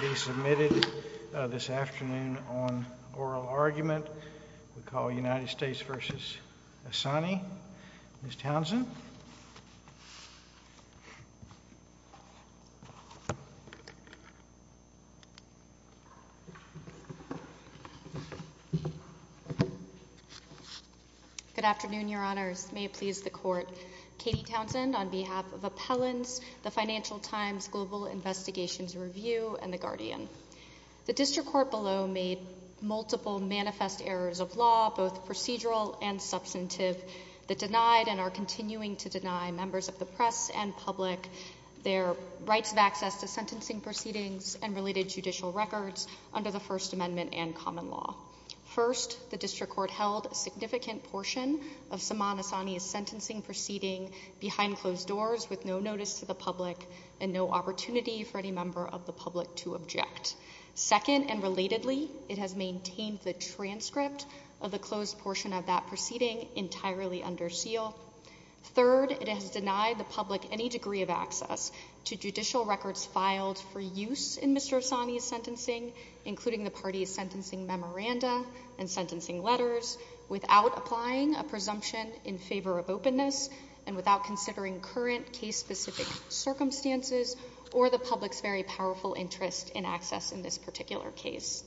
be submitted this afternoon on oral argument. We call United States v. Assani. Ms. Townsend? Good afternoon, Your Honors. May it please the Court. Katie Townsend on behalf of Appellants, the Financial Times Global Investigations Review, and the Guardian. The District Court below made multiple manifest errors of law, both procedural and substantive, that denied and are continuing to deny members of the press and public their rights of access to sentencing proceedings and related judicial records under the First Amendment and common law. First, the District Court held a significant portion of Saman Assani's sentencing proceeding behind closed doors with no notice to the public and no opportunity for any member of the public to object. Second, and relatedly, it has maintained the transcript of the closed portion of that proceeding entirely under seal. Third, it has denied the public any degree of access to judicial records filed for use in Mr. Assani's sentencing, including the party's sentencing memoranda and sentencing letters, without applying a presumption in favor of openness and without considering current case-specific circumstances or the public's very powerful interest in access in this particular case.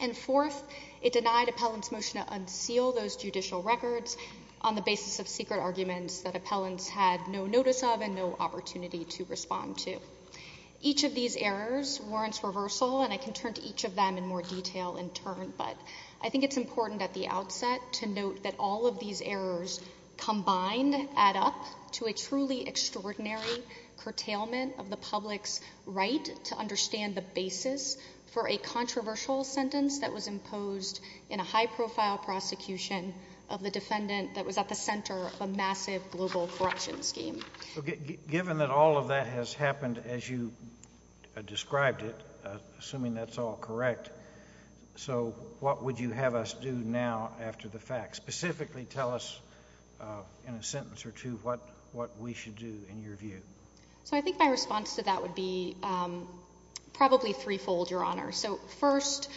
And fourth, it denied Appellants' motion to unseal those judicial records on the basis of secret arguments that Appellants had no notice of and no opportunity to respond to. Each of these errors warrants reversal, and I can turn to each of them in more detail in turn, but I think it's important at the outset to note that all of these errors combined add up to a truly extraordinary curtailment of the public's right to understand the basis for a controversial sentence that was imposed in a high-profile prosecution of the defendant that was at the center of a massive global corruption scheme. Given that all of that has happened as you described it, assuming that's all correct, so what would you have us do now after the fact? Specifically, tell us in a sentence or two what we should do in your view. So I think my response to that would be probably threefold, Your Honor. So first,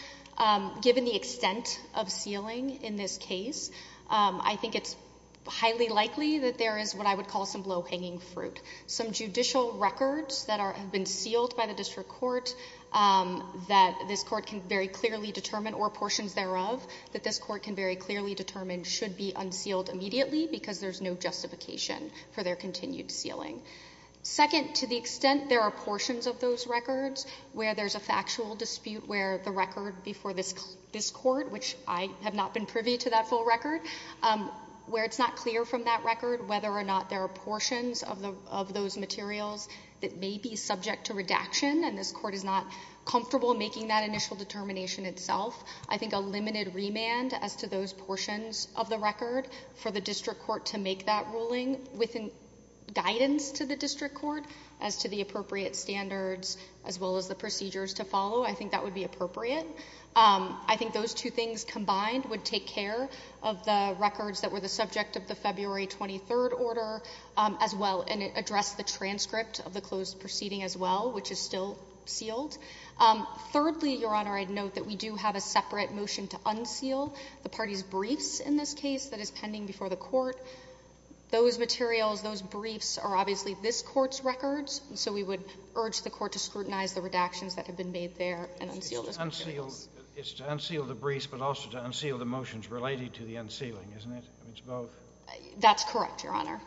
given the extent of sealing in this case, I think it's highly likely that there is what I would call some low-hanging fruit. Some judicial records that have been sealed by the district court that this court can very clearly determine should be unsealed immediately because there's no justification for their continued sealing. Second, to the extent there are portions of those records where there's a factual dispute where the record before this court, which I have not been privy to that full record, where it's not clear from that record whether or not there are portions of those materials that may be subject to redaction and this court is not comfortable making that initial determination itself, I think a limited remand as to those portions of the record for the district court to make that ruling within guidance to the district court as to the appropriate standards as well as the procedures to follow, I think that would be appropriate. I think those two things combined would take care of the records that were the subject of the February 23rd order as well and address the transcript of the closed proceeding as well, which is still sealed. Thirdly, Your Honor, I'd note that we do have a separate motion to unseal the party's briefs in this case that is pending before the court. Those materials, those briefs are obviously this court's records and so we would urge the court to scrutinize the redactions that have been made there and unseal this. It's to unseal the briefs but also to unseal the motions related to the unsealing, isn't it? It's both. That's correct, Your Honor.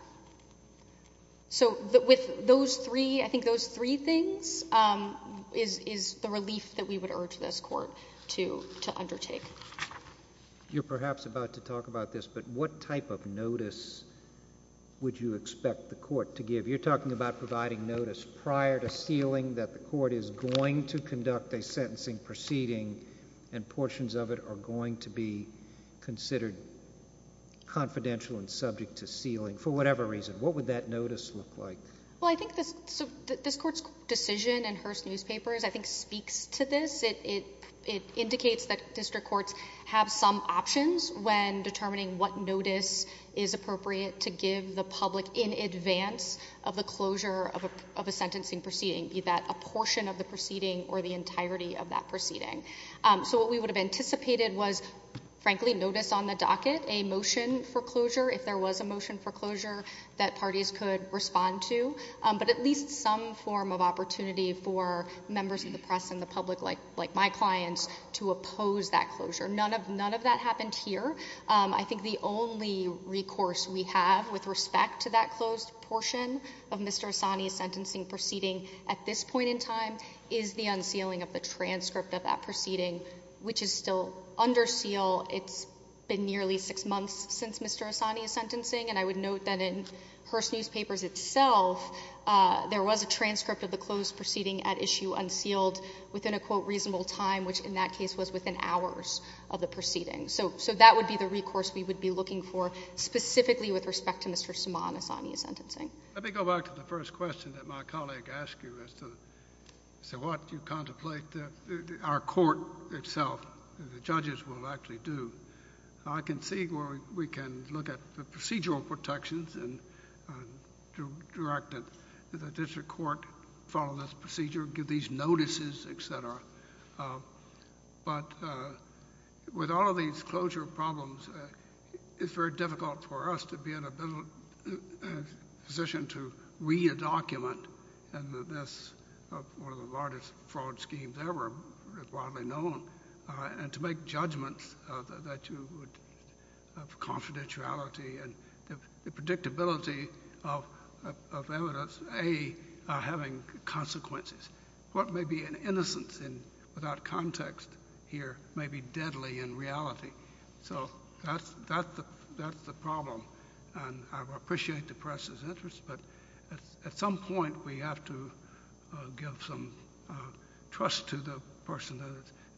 So with those three, I think those three things is the relief that we would urge this court to undertake. You're perhaps about to talk about this but what type of notice would you expect the court to give? You're talking about providing notice prior to sealing that the court is going to conduct a sentencing proceeding and portions of it are going to be considered confidential and subject to sealing for whatever reason. What would that notice look like? Well, I think this court's decision in Hearst Newspapers, I think, speaks to this. It indicates that district courts have some options when determining what notice is appropriate to give the public in advance of the closure of a sentencing proceeding, be that a portion of the proceeding or the entirety of that proceeding. So what we would have anticipated was, frankly, notice on the docket, a motion for closure. If there was a motion that the parties could respond to, but at least some form of opportunity for members of the press and the public, like my clients, to oppose that closure. None of that happened here. I think the only recourse we have with respect to that closed portion of Mr. Hassani's sentencing proceeding at this point in time is the unsealing of the transcript of that proceeding, which is still under seal. It's been nearly six months since Mr. Hassani is sentencing and I would note that in Hearst Newspapers itself, there was a transcript of the closed proceeding at issue unsealed within a quote, reasonable time, which in that case was within hours of the proceeding. So that would be the recourse we would be looking for specifically with respect to Mr. Saman Hassani's sentencing. Let me go back to the first question that my colleague asked you as to what you contemplate that our court itself, the judges will actually do. I can see where we can look at the procedural protections and direct the district court to follow this procedure, give these notices, etc. But with all of these closure problems, it's very difficult for us to be in a position to re-document this, one of the largest fraud schemes ever, widely known, and to make judgments that you would have confidentiality and the predictability of evidence, A, having consequences. What may be an innocence without context here may be deadly in reality. So that's the problem and I appreciate the press's interest, but at some point we have to give some trust to the person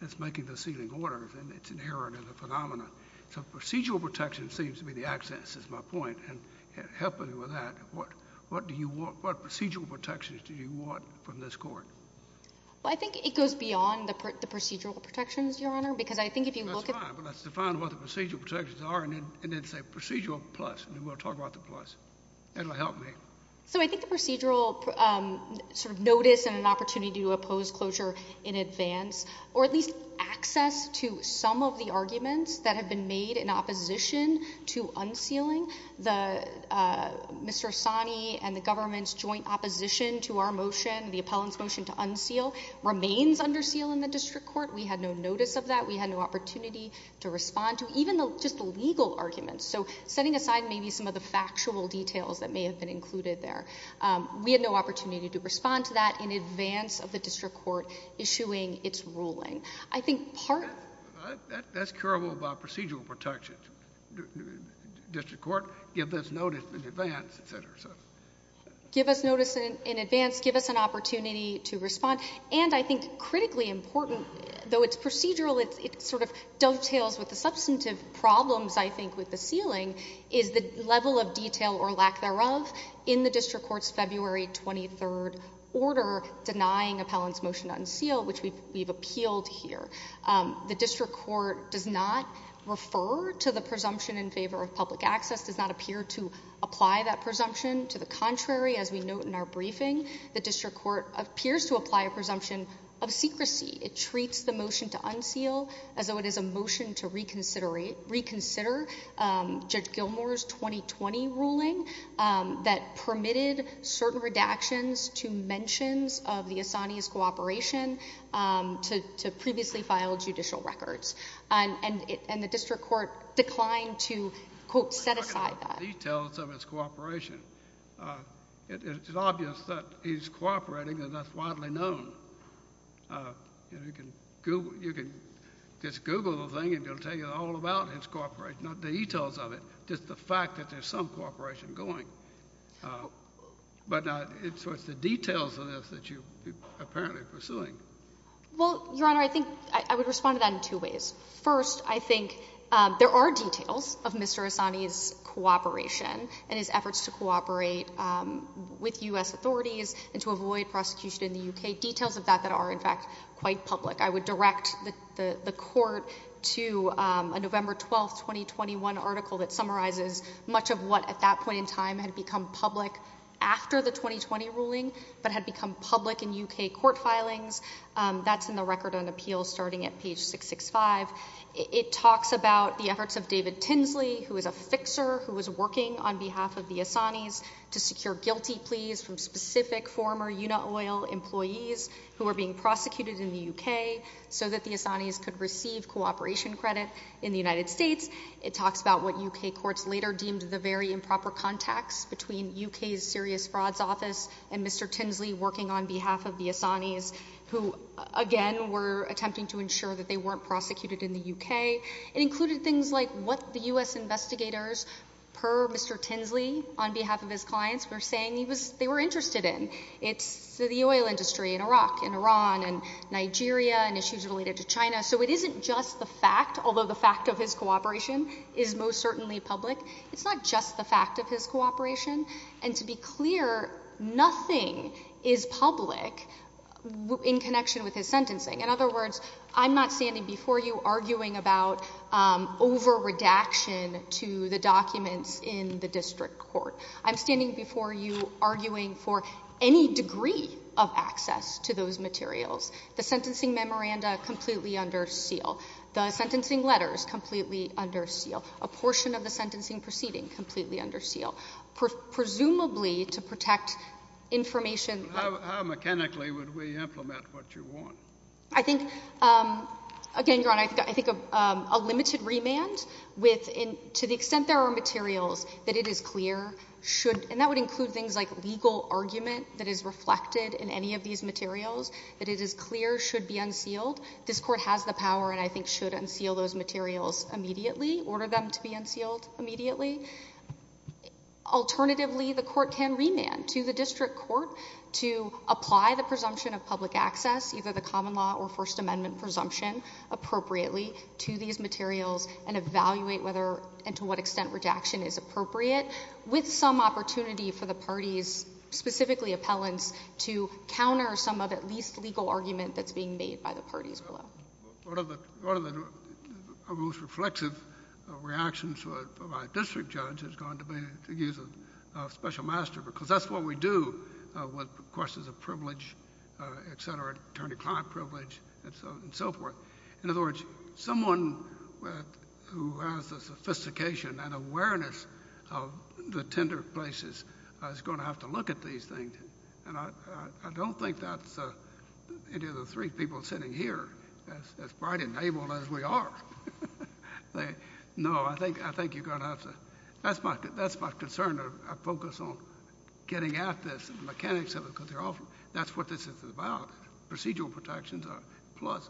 that's making the sealing orders and it's inherent in the phenomena. So procedural protection seems to be the access, is my point, and helping with that, what procedural protections do you want from this court? Well, I think it goes beyond the procedural protections, Your Honor, because I think if you look at... That's fine, but let's define what the procedural protections are and then say procedural plus, and then we'll talk about the plus. That'll help me. So I think the least access to some of the arguments that have been made in opposition to unsealing, the Mr. Asani and the government's joint opposition to our motion, the appellant's motion to unseal, remains under seal in the district court. We had no notice of that. We had no opportunity to respond to even just the legal arguments. So setting aside maybe some of the factual details that may have been included there, we had no opportunity to respond to that in advance of its ruling. I think part... That's curable by procedural protections. District court, give us notice in advance, et cetera. Give us notice in advance, give us an opportunity to respond. And I think critically important, though it's procedural, it sort of dovetails with the substantive problems, I think, with the sealing, is the level of detail or lack thereof in the district court's February 23rd order denying appellant's motion to unseal, which we've appealed here. The district court does not refer to the presumption in favor of public access, does not appear to apply that presumption. To the contrary, as we note in our briefing, the district court appears to apply a presumption of secrecy. It treats the motion to unseal as though it is a motion to reconsider Judge Gilmour's 2020 ruling that permitted certain redactions to mentions of the Assani's cooperation to previously file judicial records. And the district court declined to, quote, set aside that. The details of his cooperation. It's obvious that he's cooperating and that's widely known. You can just Google the thing and it'll tell you all about his cooperation, not the details of it, just the fact that there's some cooperation going. But it's the details of this that you're apparently pursuing. Well, Your Honor, I think I would respond to that in two ways. First, I think there are details of Mr. Assani's cooperation and his efforts to cooperate with U.S. authorities and to avoid prosecution in the U.K., details of that that are, in fact, quite public. I would direct the court to a November 12th, 2021 article that summarizes much of what at that point in time had become public after the 2020 ruling but had become public in U.K. court filings. That's in the Record on Appeals starting at page 665. It talks about the efforts of David Tinsley, who is a fixer who was working on behalf of the so that the Assanis could receive cooperation credit in the United States. It talks about what U.K. courts later deemed the very improper contacts between U.K.'s serious frauds office and Mr. Tinsley working on behalf of the Assanis, who, again, were attempting to ensure that they weren't prosecuted in the U.K. It included things like what the U.S. investigators, per Mr. Tinsley, on behalf of his clients, were saying they were interested in. It's the oil Nigeria and issues related to China. So it isn't just the fact, although the fact of his cooperation is most certainly public, it's not just the fact of his cooperation. And to be clear, nothing is public in connection with his sentencing. In other words, I'm not standing before you arguing about over-redaction to the documents in the district court. I'm standing before you arguing for any degree of access to those materials. The sentencing memoranda completely under seal. The sentencing letters completely under seal. A portion of the sentencing proceeding completely under seal. Presumably to protect information. How mechanically would we implement what you want? I think, again, Your Honor, I think a limited remand with, to the extent there are materials that it is clear should, and that would include things like legal argument that is reflected in any of these materials, that it is clear should be unsealed. This court has the power and I think should unseal those materials immediately, order them to be unsealed immediately. Alternatively, the court can remand to the district court to apply the presumption of public access, either the common law or First Amendment presumption, appropriately to these materials and evaluate whether and to what extent rejection is appropriate with some opportunity for the parties, specifically appellants, to counter some of at least legal argument that's being made by the parties below. One of the most reflexive reactions to a district judge is going to be to use a special master because that's what we do with questions of privilege, et cetera, attorney-client privilege and so forth. In other words, someone who has the sophistication and awareness of the tender places is going to have to look at these things. I don't think that's any of the three people sitting here as bright and able as we are. No, I think you're going to have to. That's my concern. I focus on getting at this and the mechanics of it because that's what this is about, procedural protections are a plus.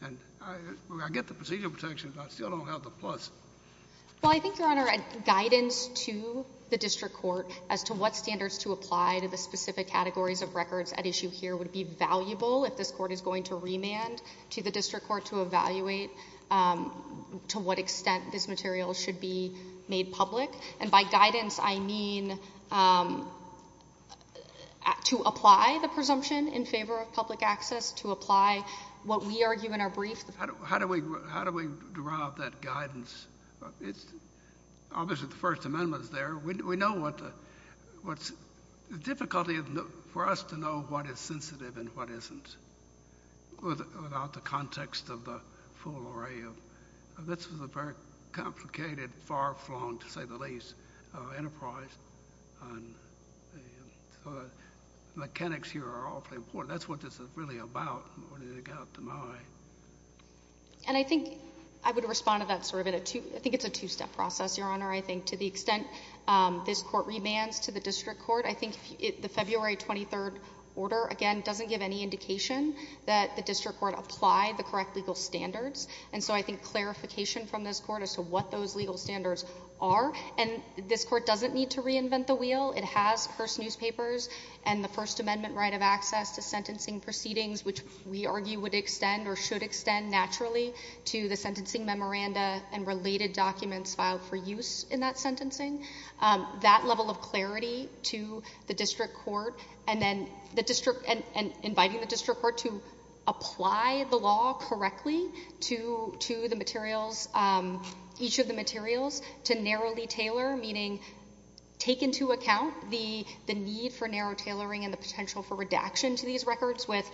When I get the procedural protections, I still don't have the plus. Well, I think, Your Honor, guidance to the district court as to what standards to apply to the specific categories of records at issue here would be valuable if this court is going to remand to the district court to evaluate to what extent this material should be made public. By guidance, I mean to apply the presumption in favor of public access, to apply what we argue in our brief. How do we derive that guidance? Obviously, the First Amendment is there. We know what the difficulty for us to know what is sensitive and what isn't without the context of the far-flung, to say the least, enterprise. The mechanics here are awfully important. That's what this is really about. And I think I would respond to that sort of in a two-step process, Your Honor. I think to the extent this court remands to the district court, I think the February 23rd order, again, doesn't give any indication that the district court applied the correct legal standards and so I think clarification from this court as to what those legal standards are and this court doesn't need to reinvent the wheel. It has first newspapers and the First Amendment right of access to sentencing proceedings, which we argue would extend or should extend naturally to the sentencing memoranda and related documents filed for use in that sentencing. That level of clarity to the district court and inviting the to narrowly tailor, meaning take into account the need for narrow tailoring and the potential for redaction to these records with,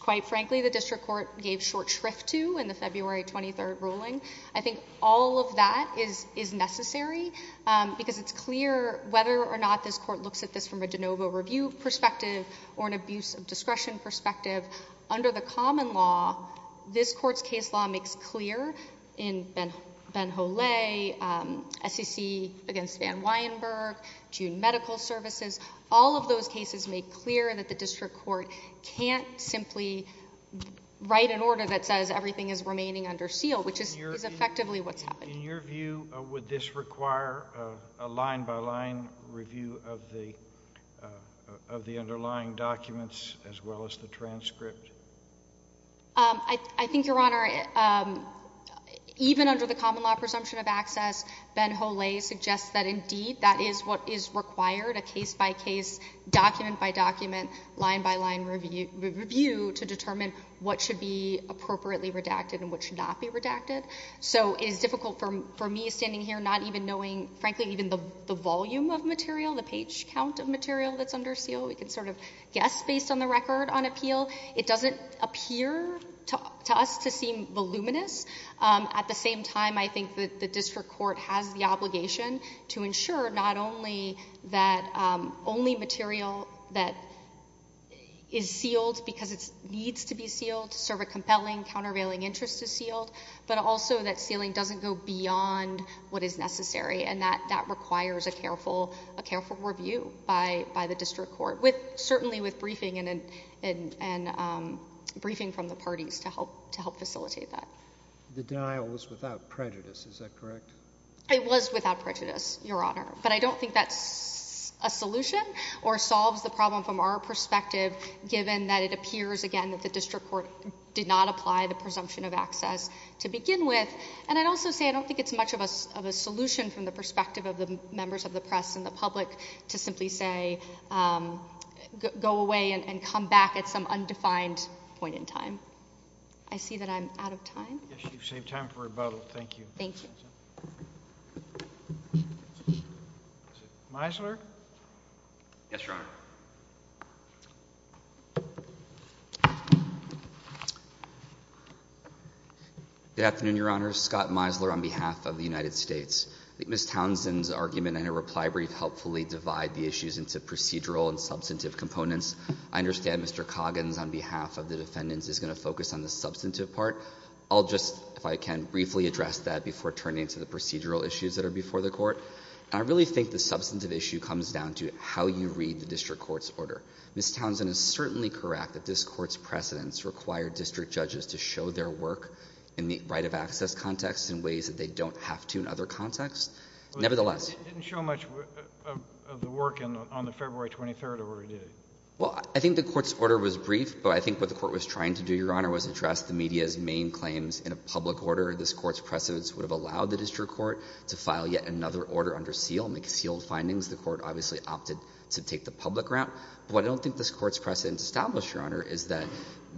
quite frankly, the district court gave short shrift to in the February 23rd ruling. I think all of that is necessary because it's clear whether or not this court looks at this from a de novo review perspective or an abuse of discretion perspective. Under the common law, this court's case law makes clear in Benhole, SEC against Van Weyenberg, June Medical Services. All of those cases make clear that the district court can't simply write an order that says everything is remaining under seal, which is effectively what's happening. In your view, would this require a line-by-line review of the underlying documents as well as a transcript? I think, Your Honor, even under the common law presumption of access, Benhole suggests that indeed that is what is required, a case-by-case, document-by-document, line-by-line review to determine what should be appropriately redacted and what should not be redacted. So it is difficult for me standing here not even knowing, frankly, even the volume of material, the page count of material that's under seal. We can sort of guess based on the record on appeal. It doesn't appear to us to seem voluminous. At the same time, I think that the district court has the obligation to ensure not only that only material that is sealed because it needs to be sealed to serve a compelling, countervailing interest is sealed, but also that sealing doesn't go beyond what is necessary. And that requires a careful review by the district court, certainly with briefing and briefing from the parties to help facilitate that. The denial was without prejudice, is that correct? It was without prejudice, Your Honor. But I don't think that's a solution or solves the problem from our perspective, given that it appears, again, that the district court did not apply the presumption of access to begin with. And I'd also say I don't think it's much of a solution from the perspective of the members of the press and the public to simply say, go away and come back at some undefined point in time. I see that I'm out of time. Yes, you've saved time for rebuttal. Thank you. Thank you. Misler? Yes, Your Honor. Good afternoon, Your Honor. Scott Misler on behalf of the United States. I think Ms. Townsend's argument and her reply brief helpfully divide the issues into procedural and substantive components. I understand Mr. Coggins on behalf of the defendants is going to focus on the substantive part. I'll just, if I can, briefly address that before turning to the procedural issues that are Ms. Townsend is certainly correct that this court's precedents require district judges to show their work in the right of access context in ways that they don't have to in other contexts. Nevertheless— It didn't show much of the work on the February 23rd, or did it? Well, I think the court's order was brief, but I think what the court was trying to do, Your Honor, was address the media's main claims in a public order. This court's precedents would have allowed the district court to file yet another order under seal and make sealed findings. The court obviously opted to take the public route. What I don't think this court's precedent established, Your Honor, is that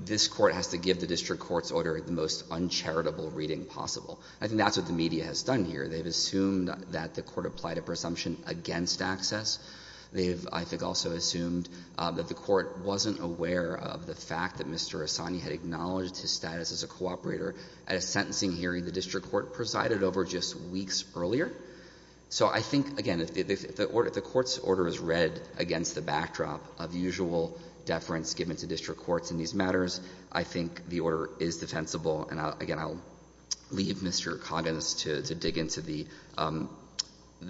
this court has to give the district court's order the most uncharitable reading possible. I think that's what the media has done here. They've assumed that the court applied a presumption against access. They've, I think, also assumed that the court wasn't aware of the fact that Mr. Hassani had acknowledged his status as a cooperator at a sentencing hearing the district court presided over just weeks earlier. So I think, again, if the court's order is read against the backdrop of usual deference given to district courts in these matters, I think the order is defensible. And, again, I'll leave Mr. Coggins to dig into the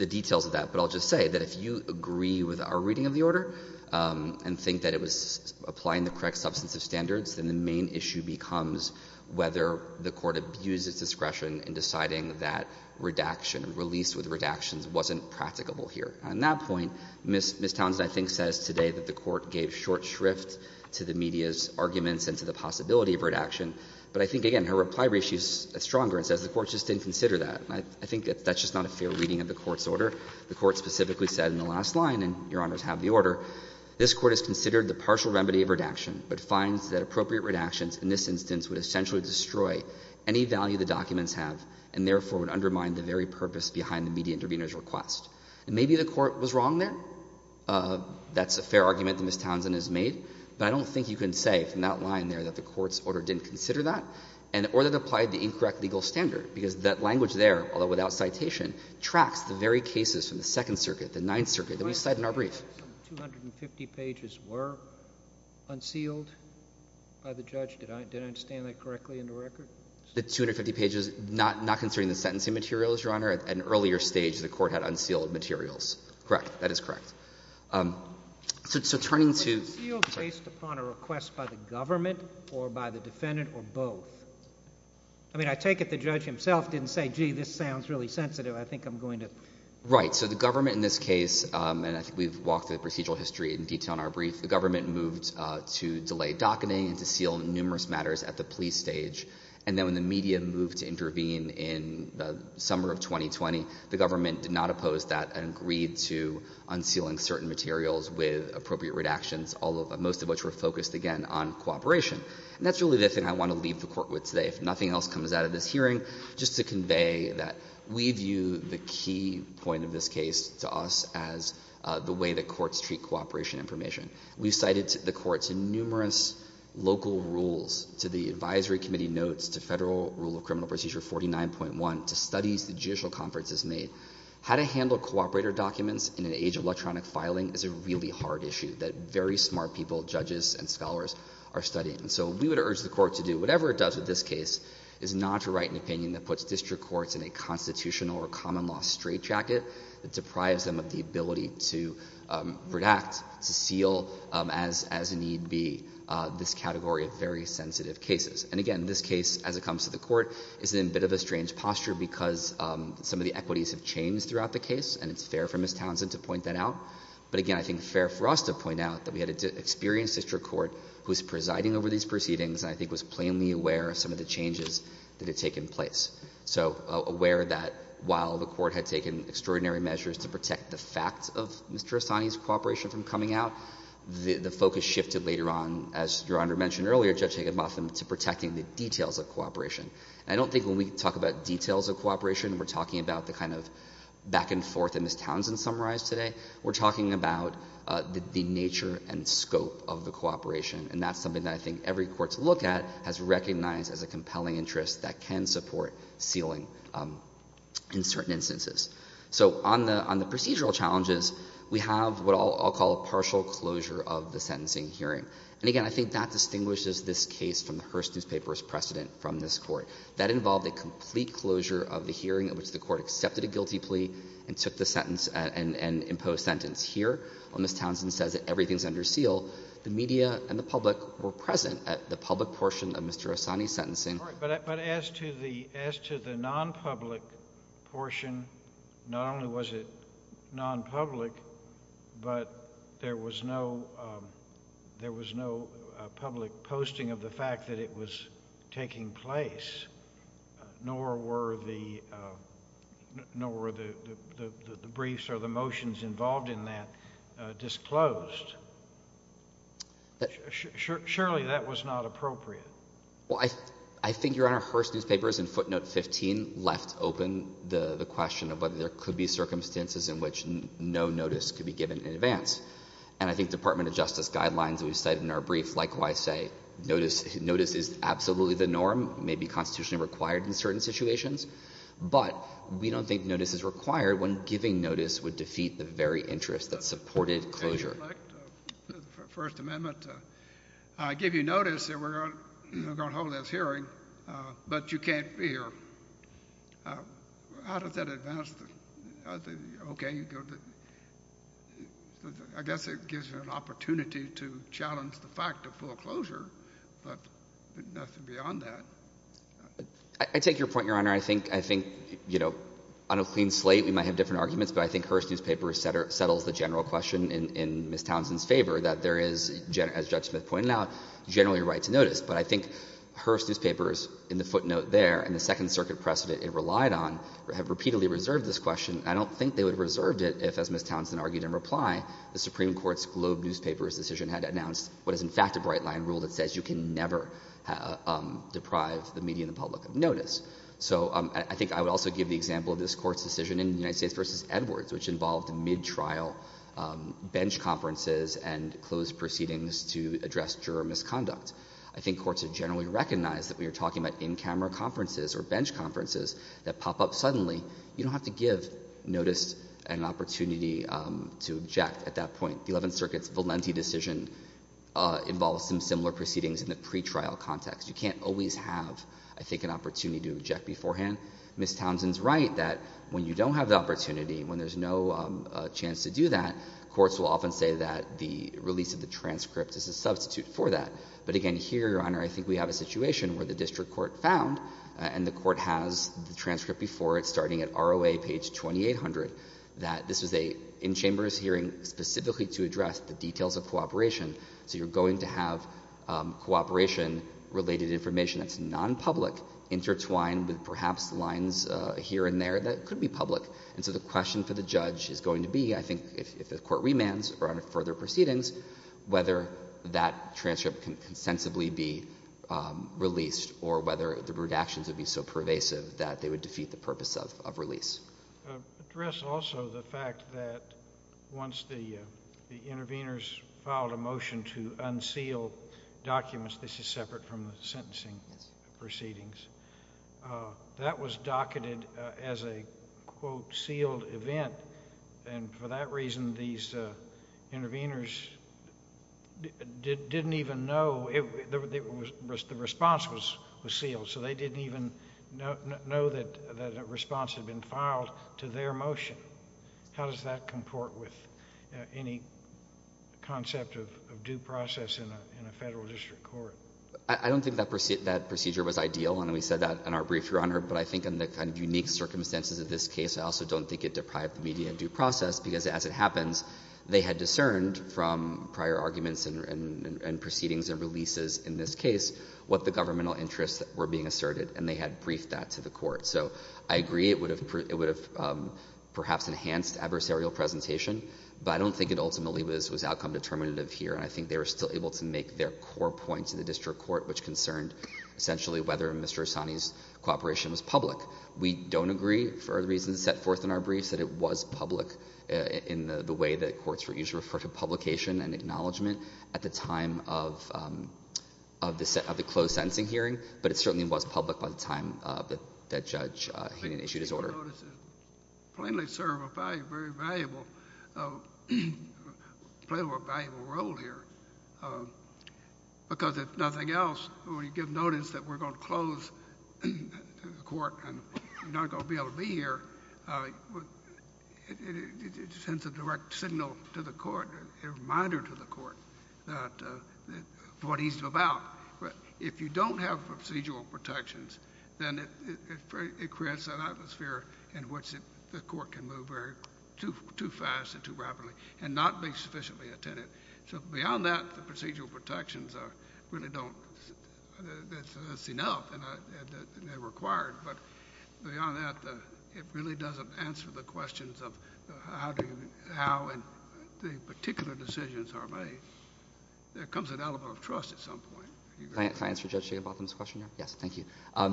details of that. But I'll just say that if you agree with our reading of the order and think that it was applying the correct substantive standards, then the main issue becomes whether the court abused its discretion in deciding that redaction, released with redactions, wasn't practicable here. On that point, Ms. Townsend, I think, says today that the court gave short shrift to the media's arguments and to the possibility of redaction. But I think, again, her reply reads stronger and says the court just didn't consider that. I think that's just not a fair reading of the court's order. The court specifically said in the last line, and Your Honors have the order, this court has considered the partial remedy of redaction, but finds that appropriate redactions in this instance would essentially destroy any value the documents have and, therefore, would undermine the very purpose behind the media intervener's request. And maybe the court was wrong there. That's a fair argument that Ms. Townsend has made. But I don't think you can say from that line there that the court's order didn't consider that or that it applied the incorrect legal standard, because that language there, although without citation, tracks the very cases from the Second Circuit, the Ninth Circuit, that we cite in our brief. The 250 pages were unsealed by the judge. Did I understand that correctly in the record? The 250 pages, not considering the sentencing materials, Your Honor, at an earlier stage the court had unsealed materials. Correct. That is correct. So turning to— Was it sealed based upon a request by the government or by the defendant or both? I mean, I take it the judge himself didn't say, gee, this sounds really sensitive. I think I'm going to— Right. So the government in this case, and I think we've walked through the procedural history in detail in our brief, the government moved to delay docketing and to seal numerous matters at the plea stage. And then when the media moved to intervene in the summer of 2020, the government did not oppose that and agreed to unsealing certain materials with appropriate redactions, most of which were focused, again, on cooperation. And that's really the thing I want to leave the Court with today. If nothing else comes out of this hearing, just to convey that we view the key point of this case to us as the way that courts treat cooperation information. We've cited the Court's numerous local rules to the Advisory Committee notes, to Federal Rule of Criminal Procedure 49.1, to studies the Judicial Conference has made. How to handle cooperator documents in an age of electronic filing is a really hard issue that very smart people, judges and scholars, are studying. So we would urge the Court to do whatever it does with this case, is not to write an opinion that puts district courts in a constitutional or common-law straitjacket that deprives them of the ability to redact, to seal, as need be, this category of very sensitive cases. And again, this case, as it comes to the Court, is in a bit of a strange posture because some of the equities have changed throughout the case, and it's fair for Ms. Townsend to point that out. But again, I think it's fair for us to point out that we had an experienced district court who was presiding over these proceedings and I think was plainly aware of some of the changes that had taken place. So aware that while the Court had taken extraordinary measures to protect the facts of Mr. Assani's cooperation from coming out, the focus shifted later on, as Your Honor mentioned earlier, Judge Higginbotham, to protecting the details of cooperation. And I don't think when we talk about details of cooperation, we're talking about the kind of back-and-forth that Ms. Townsend summarized today. We're talking about the nature and scope of the cooperation, and that's something that I think every court to look at has recognized as a compelling interest that can support sealing in certain instances. So on the procedural challenges, we have what I'll call a partial closure of the sentencing hearing. And again, I think that distinguishes this case from the Hearst Newspaper's precedent from this Court. That involved a complete closure of the hearing in which the Court accepted a guilty plea and took the sentence and imposed sentence. Here, while Ms. Townsend says that everything's under seal, the media and the public were present at the public portion of Mr. Assani's sentencing. But as to the non-public portion, not only was it non-public, but there was no public posting of the fact that it was taking place, nor were the briefs or the motions involved in that disclosed. Surely, that was not appropriate. Well, I think Your Honor, Hearst Newspaper's in footnote 15 left open the question of whether there could be circumstances in which no notice could be given in advance. And I think Department of Justice guidelines we've cited in our brief likewise say notice is absolutely the norm, may be constitutionally required in certain situations. But we don't think notice is required when giving notice would defeat the very interest that supported closure. First Amendment, I give you notice that we're going to hold this hearing, but you can't be here. How does that advance the, okay, you go to, I guess it gives you an opportunity to challenge the fact of full closure, but nothing beyond that. I take your point, Your Honor. I think, you know, on a clean slate, we might have different arguments, but I think Hearst Newspaper settles the general question in Ms. Townsend's favor that there is, as Judge Smith pointed out, generally a right to notice. But I think Hearst Newspaper's in the footnote there and the Second Circuit precedent it relied on have repeatedly reserved this question. I don't think they would have reserved it if, as Ms. Townsend argued in reply, the Supreme Court's Globe Newspaper's decision had announced what is in fact a bright line rule that says you can never deprive the media and the public of notice. So I think I would also give the example of this Court's decision in United States v. Edwards, which involved mid-trial bench conferences and closed proceedings to address juror misconduct. I think courts have generally recognized that when you're talking about in-camera conferences or bench conferences that pop up suddenly, you don't have to give notice and an opportunity to object at that point. The Eleventh Circuit's Valenti decision involves some similar proceedings in the pre-trial context. You can't always have, I think, an opportunity to object beforehand. Ms. Townsend's right that when you don't have the opportunity, when there's no chance to do that, courts will often say that the release of the transcript is a substitute for that. But again, here, Your Honor, I think we have a situation where the district court found, and the court has the transcript before it, starting at ROA page 2800, that this was an in-chambers hearing specifically to address the details of cooperation. So you're going to have cooperation-related information that's non-public intertwined with perhaps lines here and there that could be public. And so the question for the judge is going to be, I think, if the Court remands or under further proceedings, whether that transcript can consensibly be released or whether the redactions would be so pervasive that they would defeat the purpose of release. Address also the fact that once the intervenors filed a motion to unseal documents, this is separate from the sentencing proceedings, that was docketed as a, quote, sealed event. And for that reason, these intervenors didn't even know the response was sealed. So they didn't even know that a response had been filed to their motion. How does that comport with any concept of due process in a federal district court? I don't think that procedure was ideal, and we said that in our brief, Your Honor. But I think in the kind of unique circumstances of this case, I also don't think it deprived the media of due process, because as it happens, they had discerned from prior arguments and they had briefed that to the Court. So I agree it would have perhaps enhanced adversarial presentation, but I don't think it ultimately was outcome determinative here, and I think they were still able to make their core point to the district court, which concerned essentially whether Mr. Osani's cooperation was public. We don't agree for the reasons set forth in our briefs that it was public in the way that courts usually refer to publication and acknowledgment at the time of the closed sentencing hearing, but it certainly was public by the time that Judge Heenan issued his order. Plainly serve a very valuable role here, because if nothing else, when you give notice that we're going to close the court and you're not going to be able to be here, it sends a direct signal to the court, a reminder to the court, of what he's about. If you don't have procedural protections, then it creates an atmosphere in which the court can move too fast and too rapidly and not be sufficiently attended. So beyond that, the procedural protections really don't... that's enough and they're required, but beyond that, it really doesn't answer the questions of how and the particular decisions are made. There comes an element of trust at some point. Can I answer Judge Jiggabatham's question now? Yes, thank you. I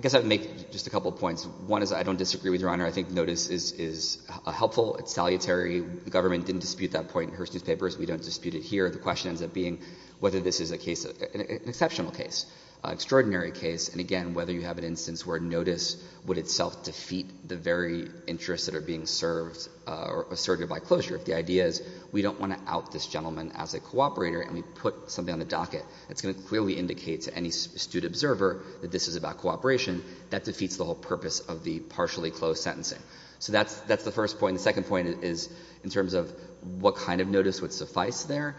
guess I would make just a couple of points. One is I don't disagree with Your Honor. I think notice is helpful. It's salutary. The government didn't dispute that point in Hearst Newspapers. We don't dispute it here. The question ends up being whether this is an exceptional case, an extraordinary case, and again, whether you have an instance where notice would itself defeat the very interests that are being served or asserted by closure. If the idea is we don't want to judge this gentleman as a cooperator and we put something on the docket that's going to clearly indicate to any astute observer that this is about cooperation, that defeats the whole purpose of the partially closed sentencing. So that's the first point. The second point is in terms of what kind of notice would suffice there.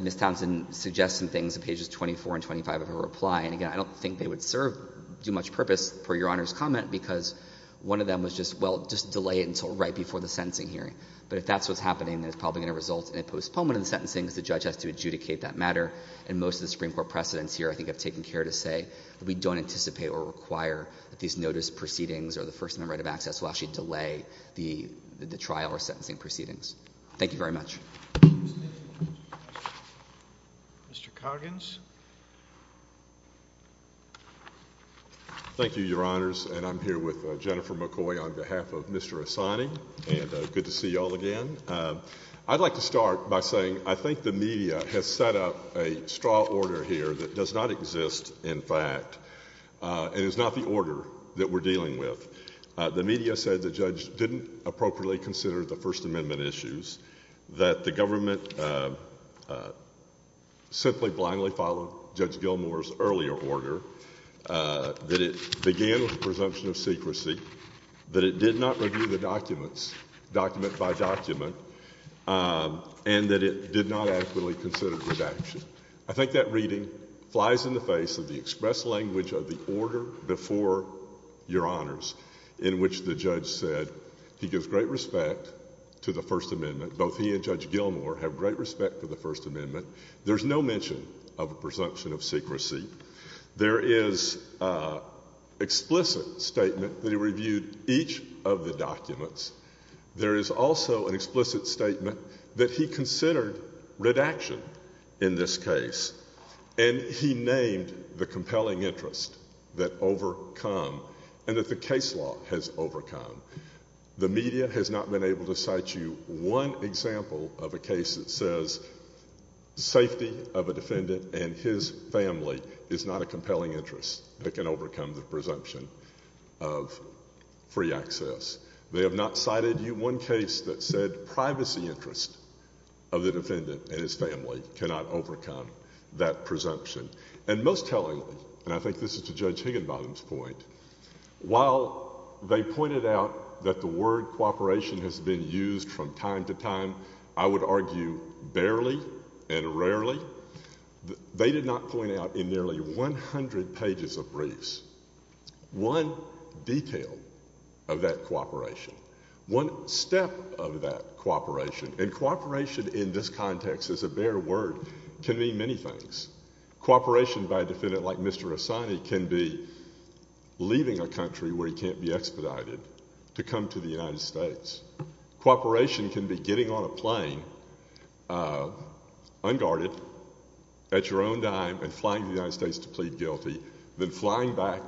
Ms. Townsend suggests some things on pages 24 and 25 of her reply, and again, I don't think they would serve too much purpose for Your Honor's comment because one of them was just, well, just delay it until right before the sentencing hearing. But if that's what's happening, then it's a problem in the sentencing because the judge has to adjudicate that matter, and most of the Supreme Court precedents here, I think, have taken care to say that we don't anticipate or require that these notice proceedings or the First Amendment right of access will actually delay the trial or sentencing proceedings. Thank you very much. Mr. Coggins. Thank you, Your Honors, and I'm here with Jennifer McCoy on behalf of Mr. Assigning, and good to see you all again. I'd like to start by saying I think the media has set up a straw order here that does not exist, in fact, and is not the order that we're dealing with. The media said the judge didn't appropriately consider the First Amendment issues, that the government simply blindly followed Judge Gilmour's earlier order, that it began with the documents, document by document, and that it did not adequately consider redaction. I think that reading flies in the face of the express language of the order before Your Honors in which the judge said he gives great respect to the First Amendment, both he and Judge Gilmour have great respect for the First Amendment. There's no mention of a presumption of secrecy. There is an explicit statement that he reviewed each of the documents. There is also an explicit statement that he considered redaction in this case, and he named the compelling interest that overcome and that the case law has overcome. The media has not been able to cite you one example of a case that says safety of a defendant and his family is not a compelling interest that can overcome the presumption of free access. They have not cited you one case that said privacy interest of the defendant and his family cannot overcome that presumption. And most tellingly, and I think this is to Judge Higginbottom's point, while they pointed out that the word cooperation has been used from time to time, I would argue barely and rarely, they did not point out in nearly 100 pages of briefs one detail of that cooperation, one step of that cooperation, and cooperation in this context as a bare word, can mean many things. Cooperation by a defendant like Mr. Hassani can be leaving a country where he can't be expedited to come to the United States. Cooperation can be getting on a plane, unguarded, at your own dime, and flying to the United States to plead guilty, then flying back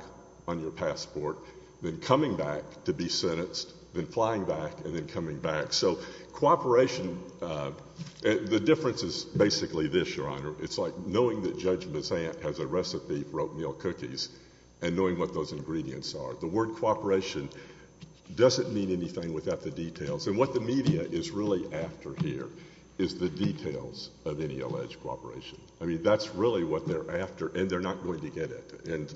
on your passport, then coming back to be sentenced, then flying back and then coming back. So cooperation, the difference is basically this, Your Honor. It's like knowing that Judge Bessant has a recipe for oatmeal cookies and knowing what those ingredients are. The word cooperation doesn't mean anything without the details. And what the media is really after here is the details of any alleged cooperation. I mean, that's really what they're after, and they're not going to get it. And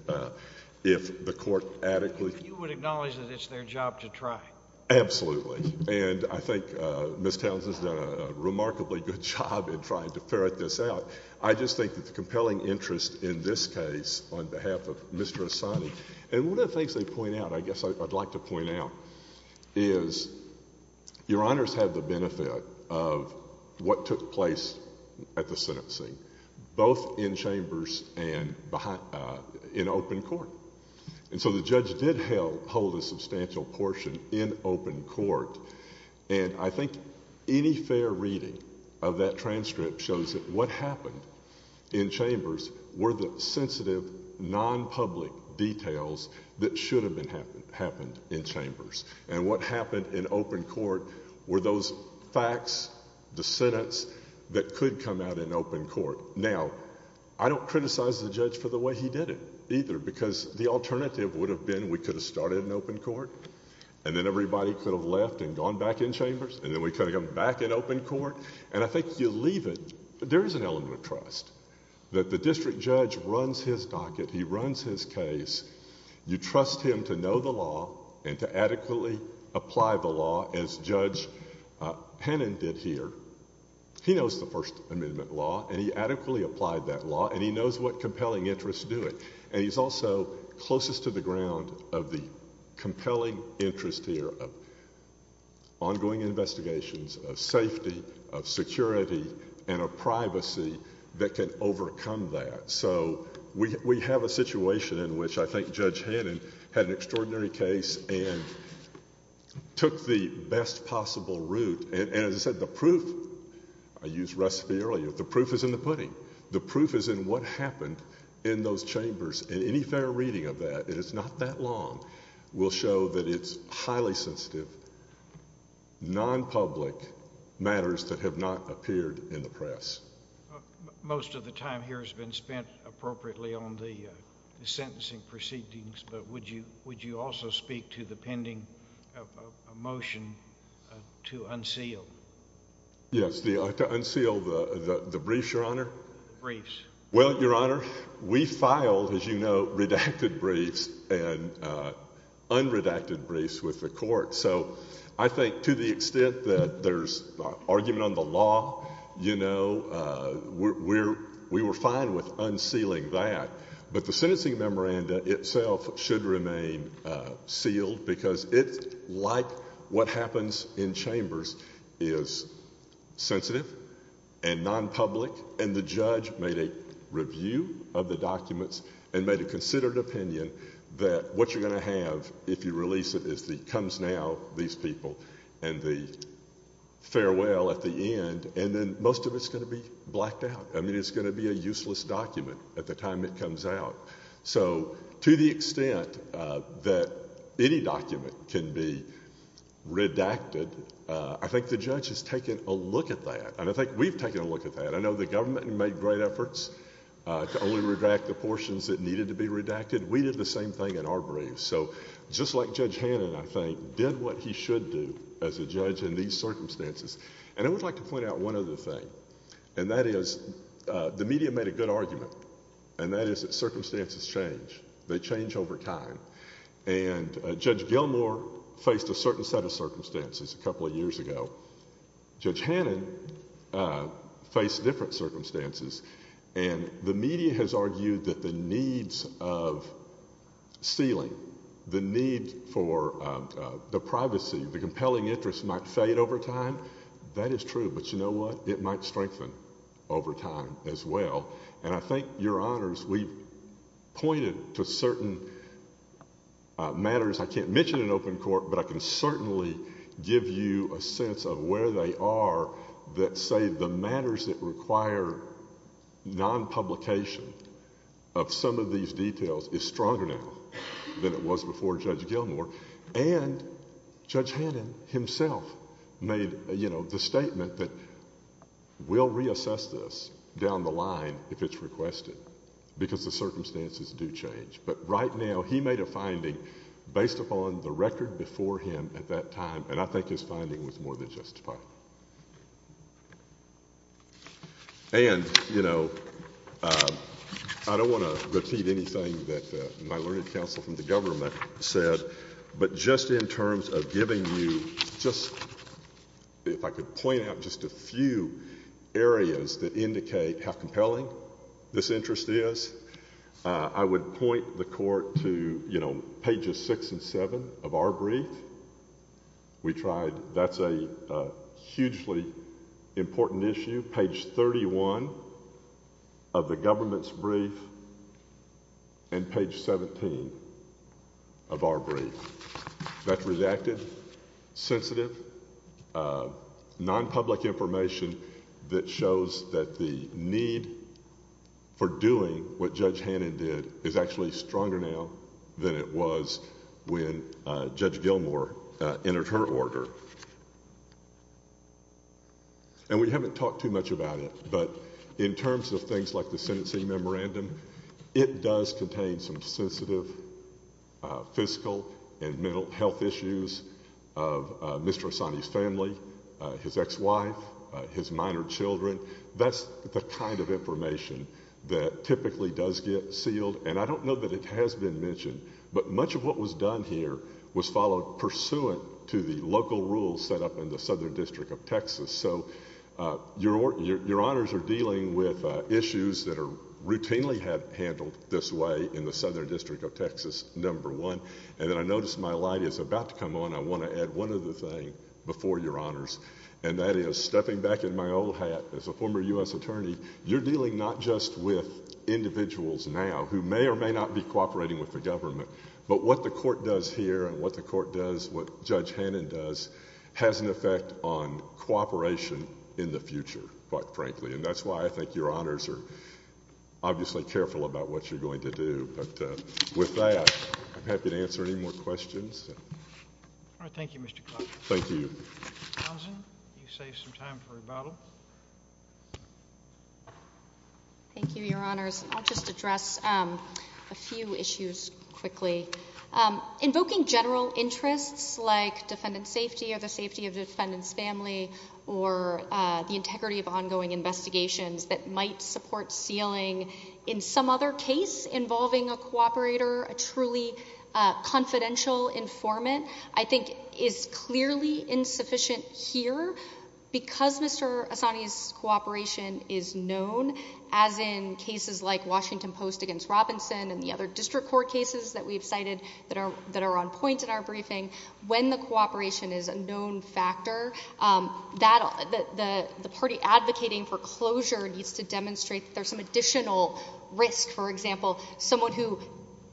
if the court adequately... And I think Ms. Townsend's done a remarkably good job in trying to ferret this out. I just think that the compelling interest in this case on behalf of Mr. Hassani, and one of the things they point out, I guess I'd like to point out, is Your Honors had the benefit of what took place at the sentencing, both in chambers and in open court. And so the I think any fair reading of that transcript shows that what happened in chambers were the sensitive, non-public details that should have happened in chambers. And what happened in open court were those facts, the sentence, that could come out in open court. Now, I don't criticize the judge for the way he did it, either, because the alternative would have gone back in chambers, and then we could have gone back in open court. And I think you leave it... There is an element of trust, that the district judge runs his docket, he runs his case. You trust him to know the law and to adequately apply the law as Judge Hannon did here. He knows the First Amendment law, and he adequately applied that law, and he knows what compelling interests do it. And he's also closest to the ground of the compelling interest here of ongoing investigations, of safety, of security, and of privacy that can overcome that. So we have a situation in which I think Judge Hannon had an extraordinary case and took the best possible route. And as I said, the proof... I used recipe earlier. The proof is in the pudding. The proof is in what happened in those chambers. And any prior reading of that, it is not that long, will show that it's highly sensitive, non-public matters that have not appeared in the press. Most of the time here has been spent appropriately on the sentencing proceedings, but would you also speak to the pending motion to unseal? Yes, to unseal the briefs, Your Honor. Briefs. Well, Your Honor, we filed, as you know, redacted briefs and unredacted briefs with the court. So I think to the extent that there's argument on the law, you know, we were fine with unsealing that. But the sentencing memoranda itself should remain sealed because it's like what the judge made a review of the documents and made a considered opinion that what you're going to have if you release it is the comes now, these people, and the farewell at the end, and then most of it's going to be blacked out. I mean, it's going to be a useless document at the time it comes out. So to the extent that any document can be redacted, I think the judge has taken a look at that, and I think we've taken a look at that. I know the government made great efforts to only redact the portions that needed to be redacted. We did the same thing in our briefs. So just like Judge Hannon, I think, did what he should do as a judge in these circumstances. And I would like to point out one other thing, and that is the media made a good argument, and that is that circumstances change. They change over time. And Judge Gilmour faced a certain set of circumstances a couple of years ago. Judge Hannon faced different circumstances. And the media has argued that the needs of sealing, the need for the privacy, the compelling interest might fade over time. That is true, but you know what? It might strengthen over time as well. And I think, Your Honors, we pointed to certain matters. I can't mention in open court, but certainly give you a sense of where they are that say the matters that require non-publication of some of these details is stronger now than it was before Judge Gilmour. And Judge Hannon himself made the statement that we'll reassess this down the line if it's requested, because the circumstances do change. But right now, he made a finding based upon the record before him at that time, and I think his finding was more than justifiable. And you know, I don't want to repeat anything that my learned counsel from the government said, but just in terms of giving you just, if I could point out just a few areas that the court, you know, pages 6 and 7 of our brief, we tried, that's a hugely important issue, page 31 of the government's brief and page 17 of our brief. That's redacted, sensitive, non-public information that shows that the need for doing what Judge Hannon did is actually stronger now than it was when Judge Gilmour entered her order. And we haven't talked too much about it, but in terms of things like the sentencing memorandum, it does contain some sensitive fiscal and mental health issues of Mr. Hassani's family, his ex-wife, his minor children. That's the kind of information that typically does get mentioned. But much of what was done here was followed pursuant to the local rules set up in the Southern District of Texas. So your honors are dealing with issues that are routinely have handled this way in the Southern District of Texas, number one, and then I noticed my light is about to come on. I want to add one other thing before your honors, and that is stepping back in my old hat as a former U.S. attorney, you're dealing not just with individuals now who may or may not be cooperating with the government, but what the court does here and what the court does, what Judge Hannon does, has an effect on cooperation in the future, quite frankly. And that's why I think your honors are obviously careful about what you're going to do. But with that, I'm happy to answer any more questions. All right. Thank you, Mr. Clark. Thank you. Mr. Townsend, you saved some time for rebuttal. Thank you, your honors. I'll just address a few issues quickly. Invoking general interests like defendant safety or the safety of defendant's family or the integrity of ongoing investigations that might support sealing in some other case involving a cooperator, a truly confidential informant, I think is clearly insufficient here because Mr. Assani's cooperation is known, as in cases like Washington Post against Robinson and the other district court cases that we've cited that are on point in our briefing. When the cooperation is a known factor, the party advocating for closure needs to demonstrate that there's some additional risk. For example, someone who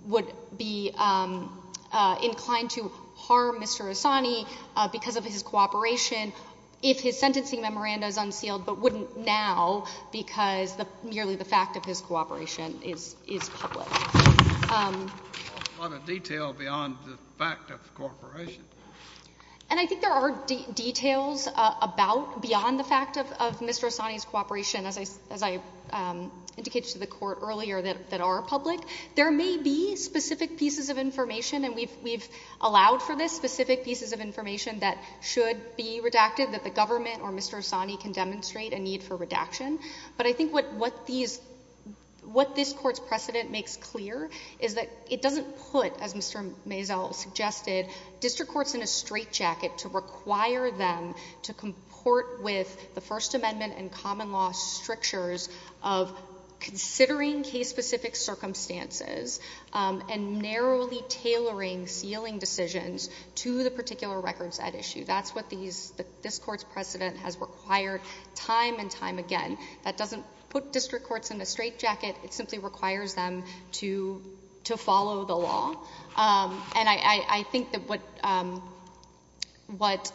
would be inclined to harm Mr. Assani because of his cooperation if his sentencing memoranda is unsealed but wouldn't now because merely the fact of his cooperation is public. There's a lot of detail beyond the fact of cooperation. And I think there are details beyond the fact of Mr. Assani's cooperation, as I indicated to the court earlier, that are public. There may be specific pieces of information, and we've allowed for this, specific pieces of information that should be redacted that the government or Mr. Assani can demonstrate a need for redaction. But I think what this court's precedent makes clear is that it doesn't put, as Mr. Maisel suggested, district courts in a straitjacket to require them to comport with the First Amendment and common law strictures of considering case-specific circumstances and narrowly tailoring sealing decisions to the particular records at issue. That's what this court's precedent has required time and time again. That doesn't put district courts in a straitjacket. It simply requires them to follow the law. And I think that what,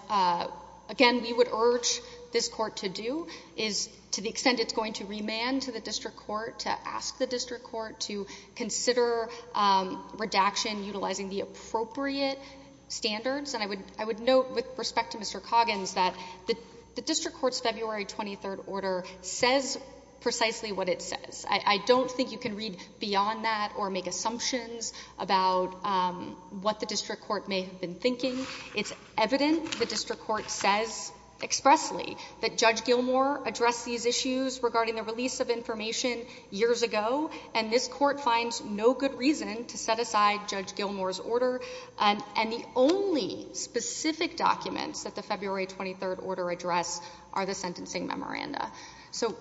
again, we would urge this court to do is, to the extent it's going to remand to the district court, to ask the district court to consider redaction utilizing the appropriate standards. And I would note, with respect to Mr. Coggins, that the district court's February 23rd order says precisely what it says. I don't think you can read beyond that or make assumptions about what the district court may have been thinking. It's evident the district court says expressly that Judge Gilmour addressed these issues regarding the release of information years ago, and this court finds no good reason to set aside Judge Gilmour's order. And the only specific documents that the February 23rd order address are the sentencing memoranda. So,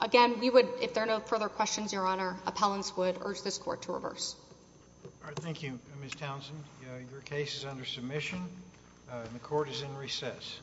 again, we would, if there are no further questions, Your Honor, appellants would urge this court to reverse. All right, thank you, Ms. Townsend. Your case is under submission, and the court is in recess.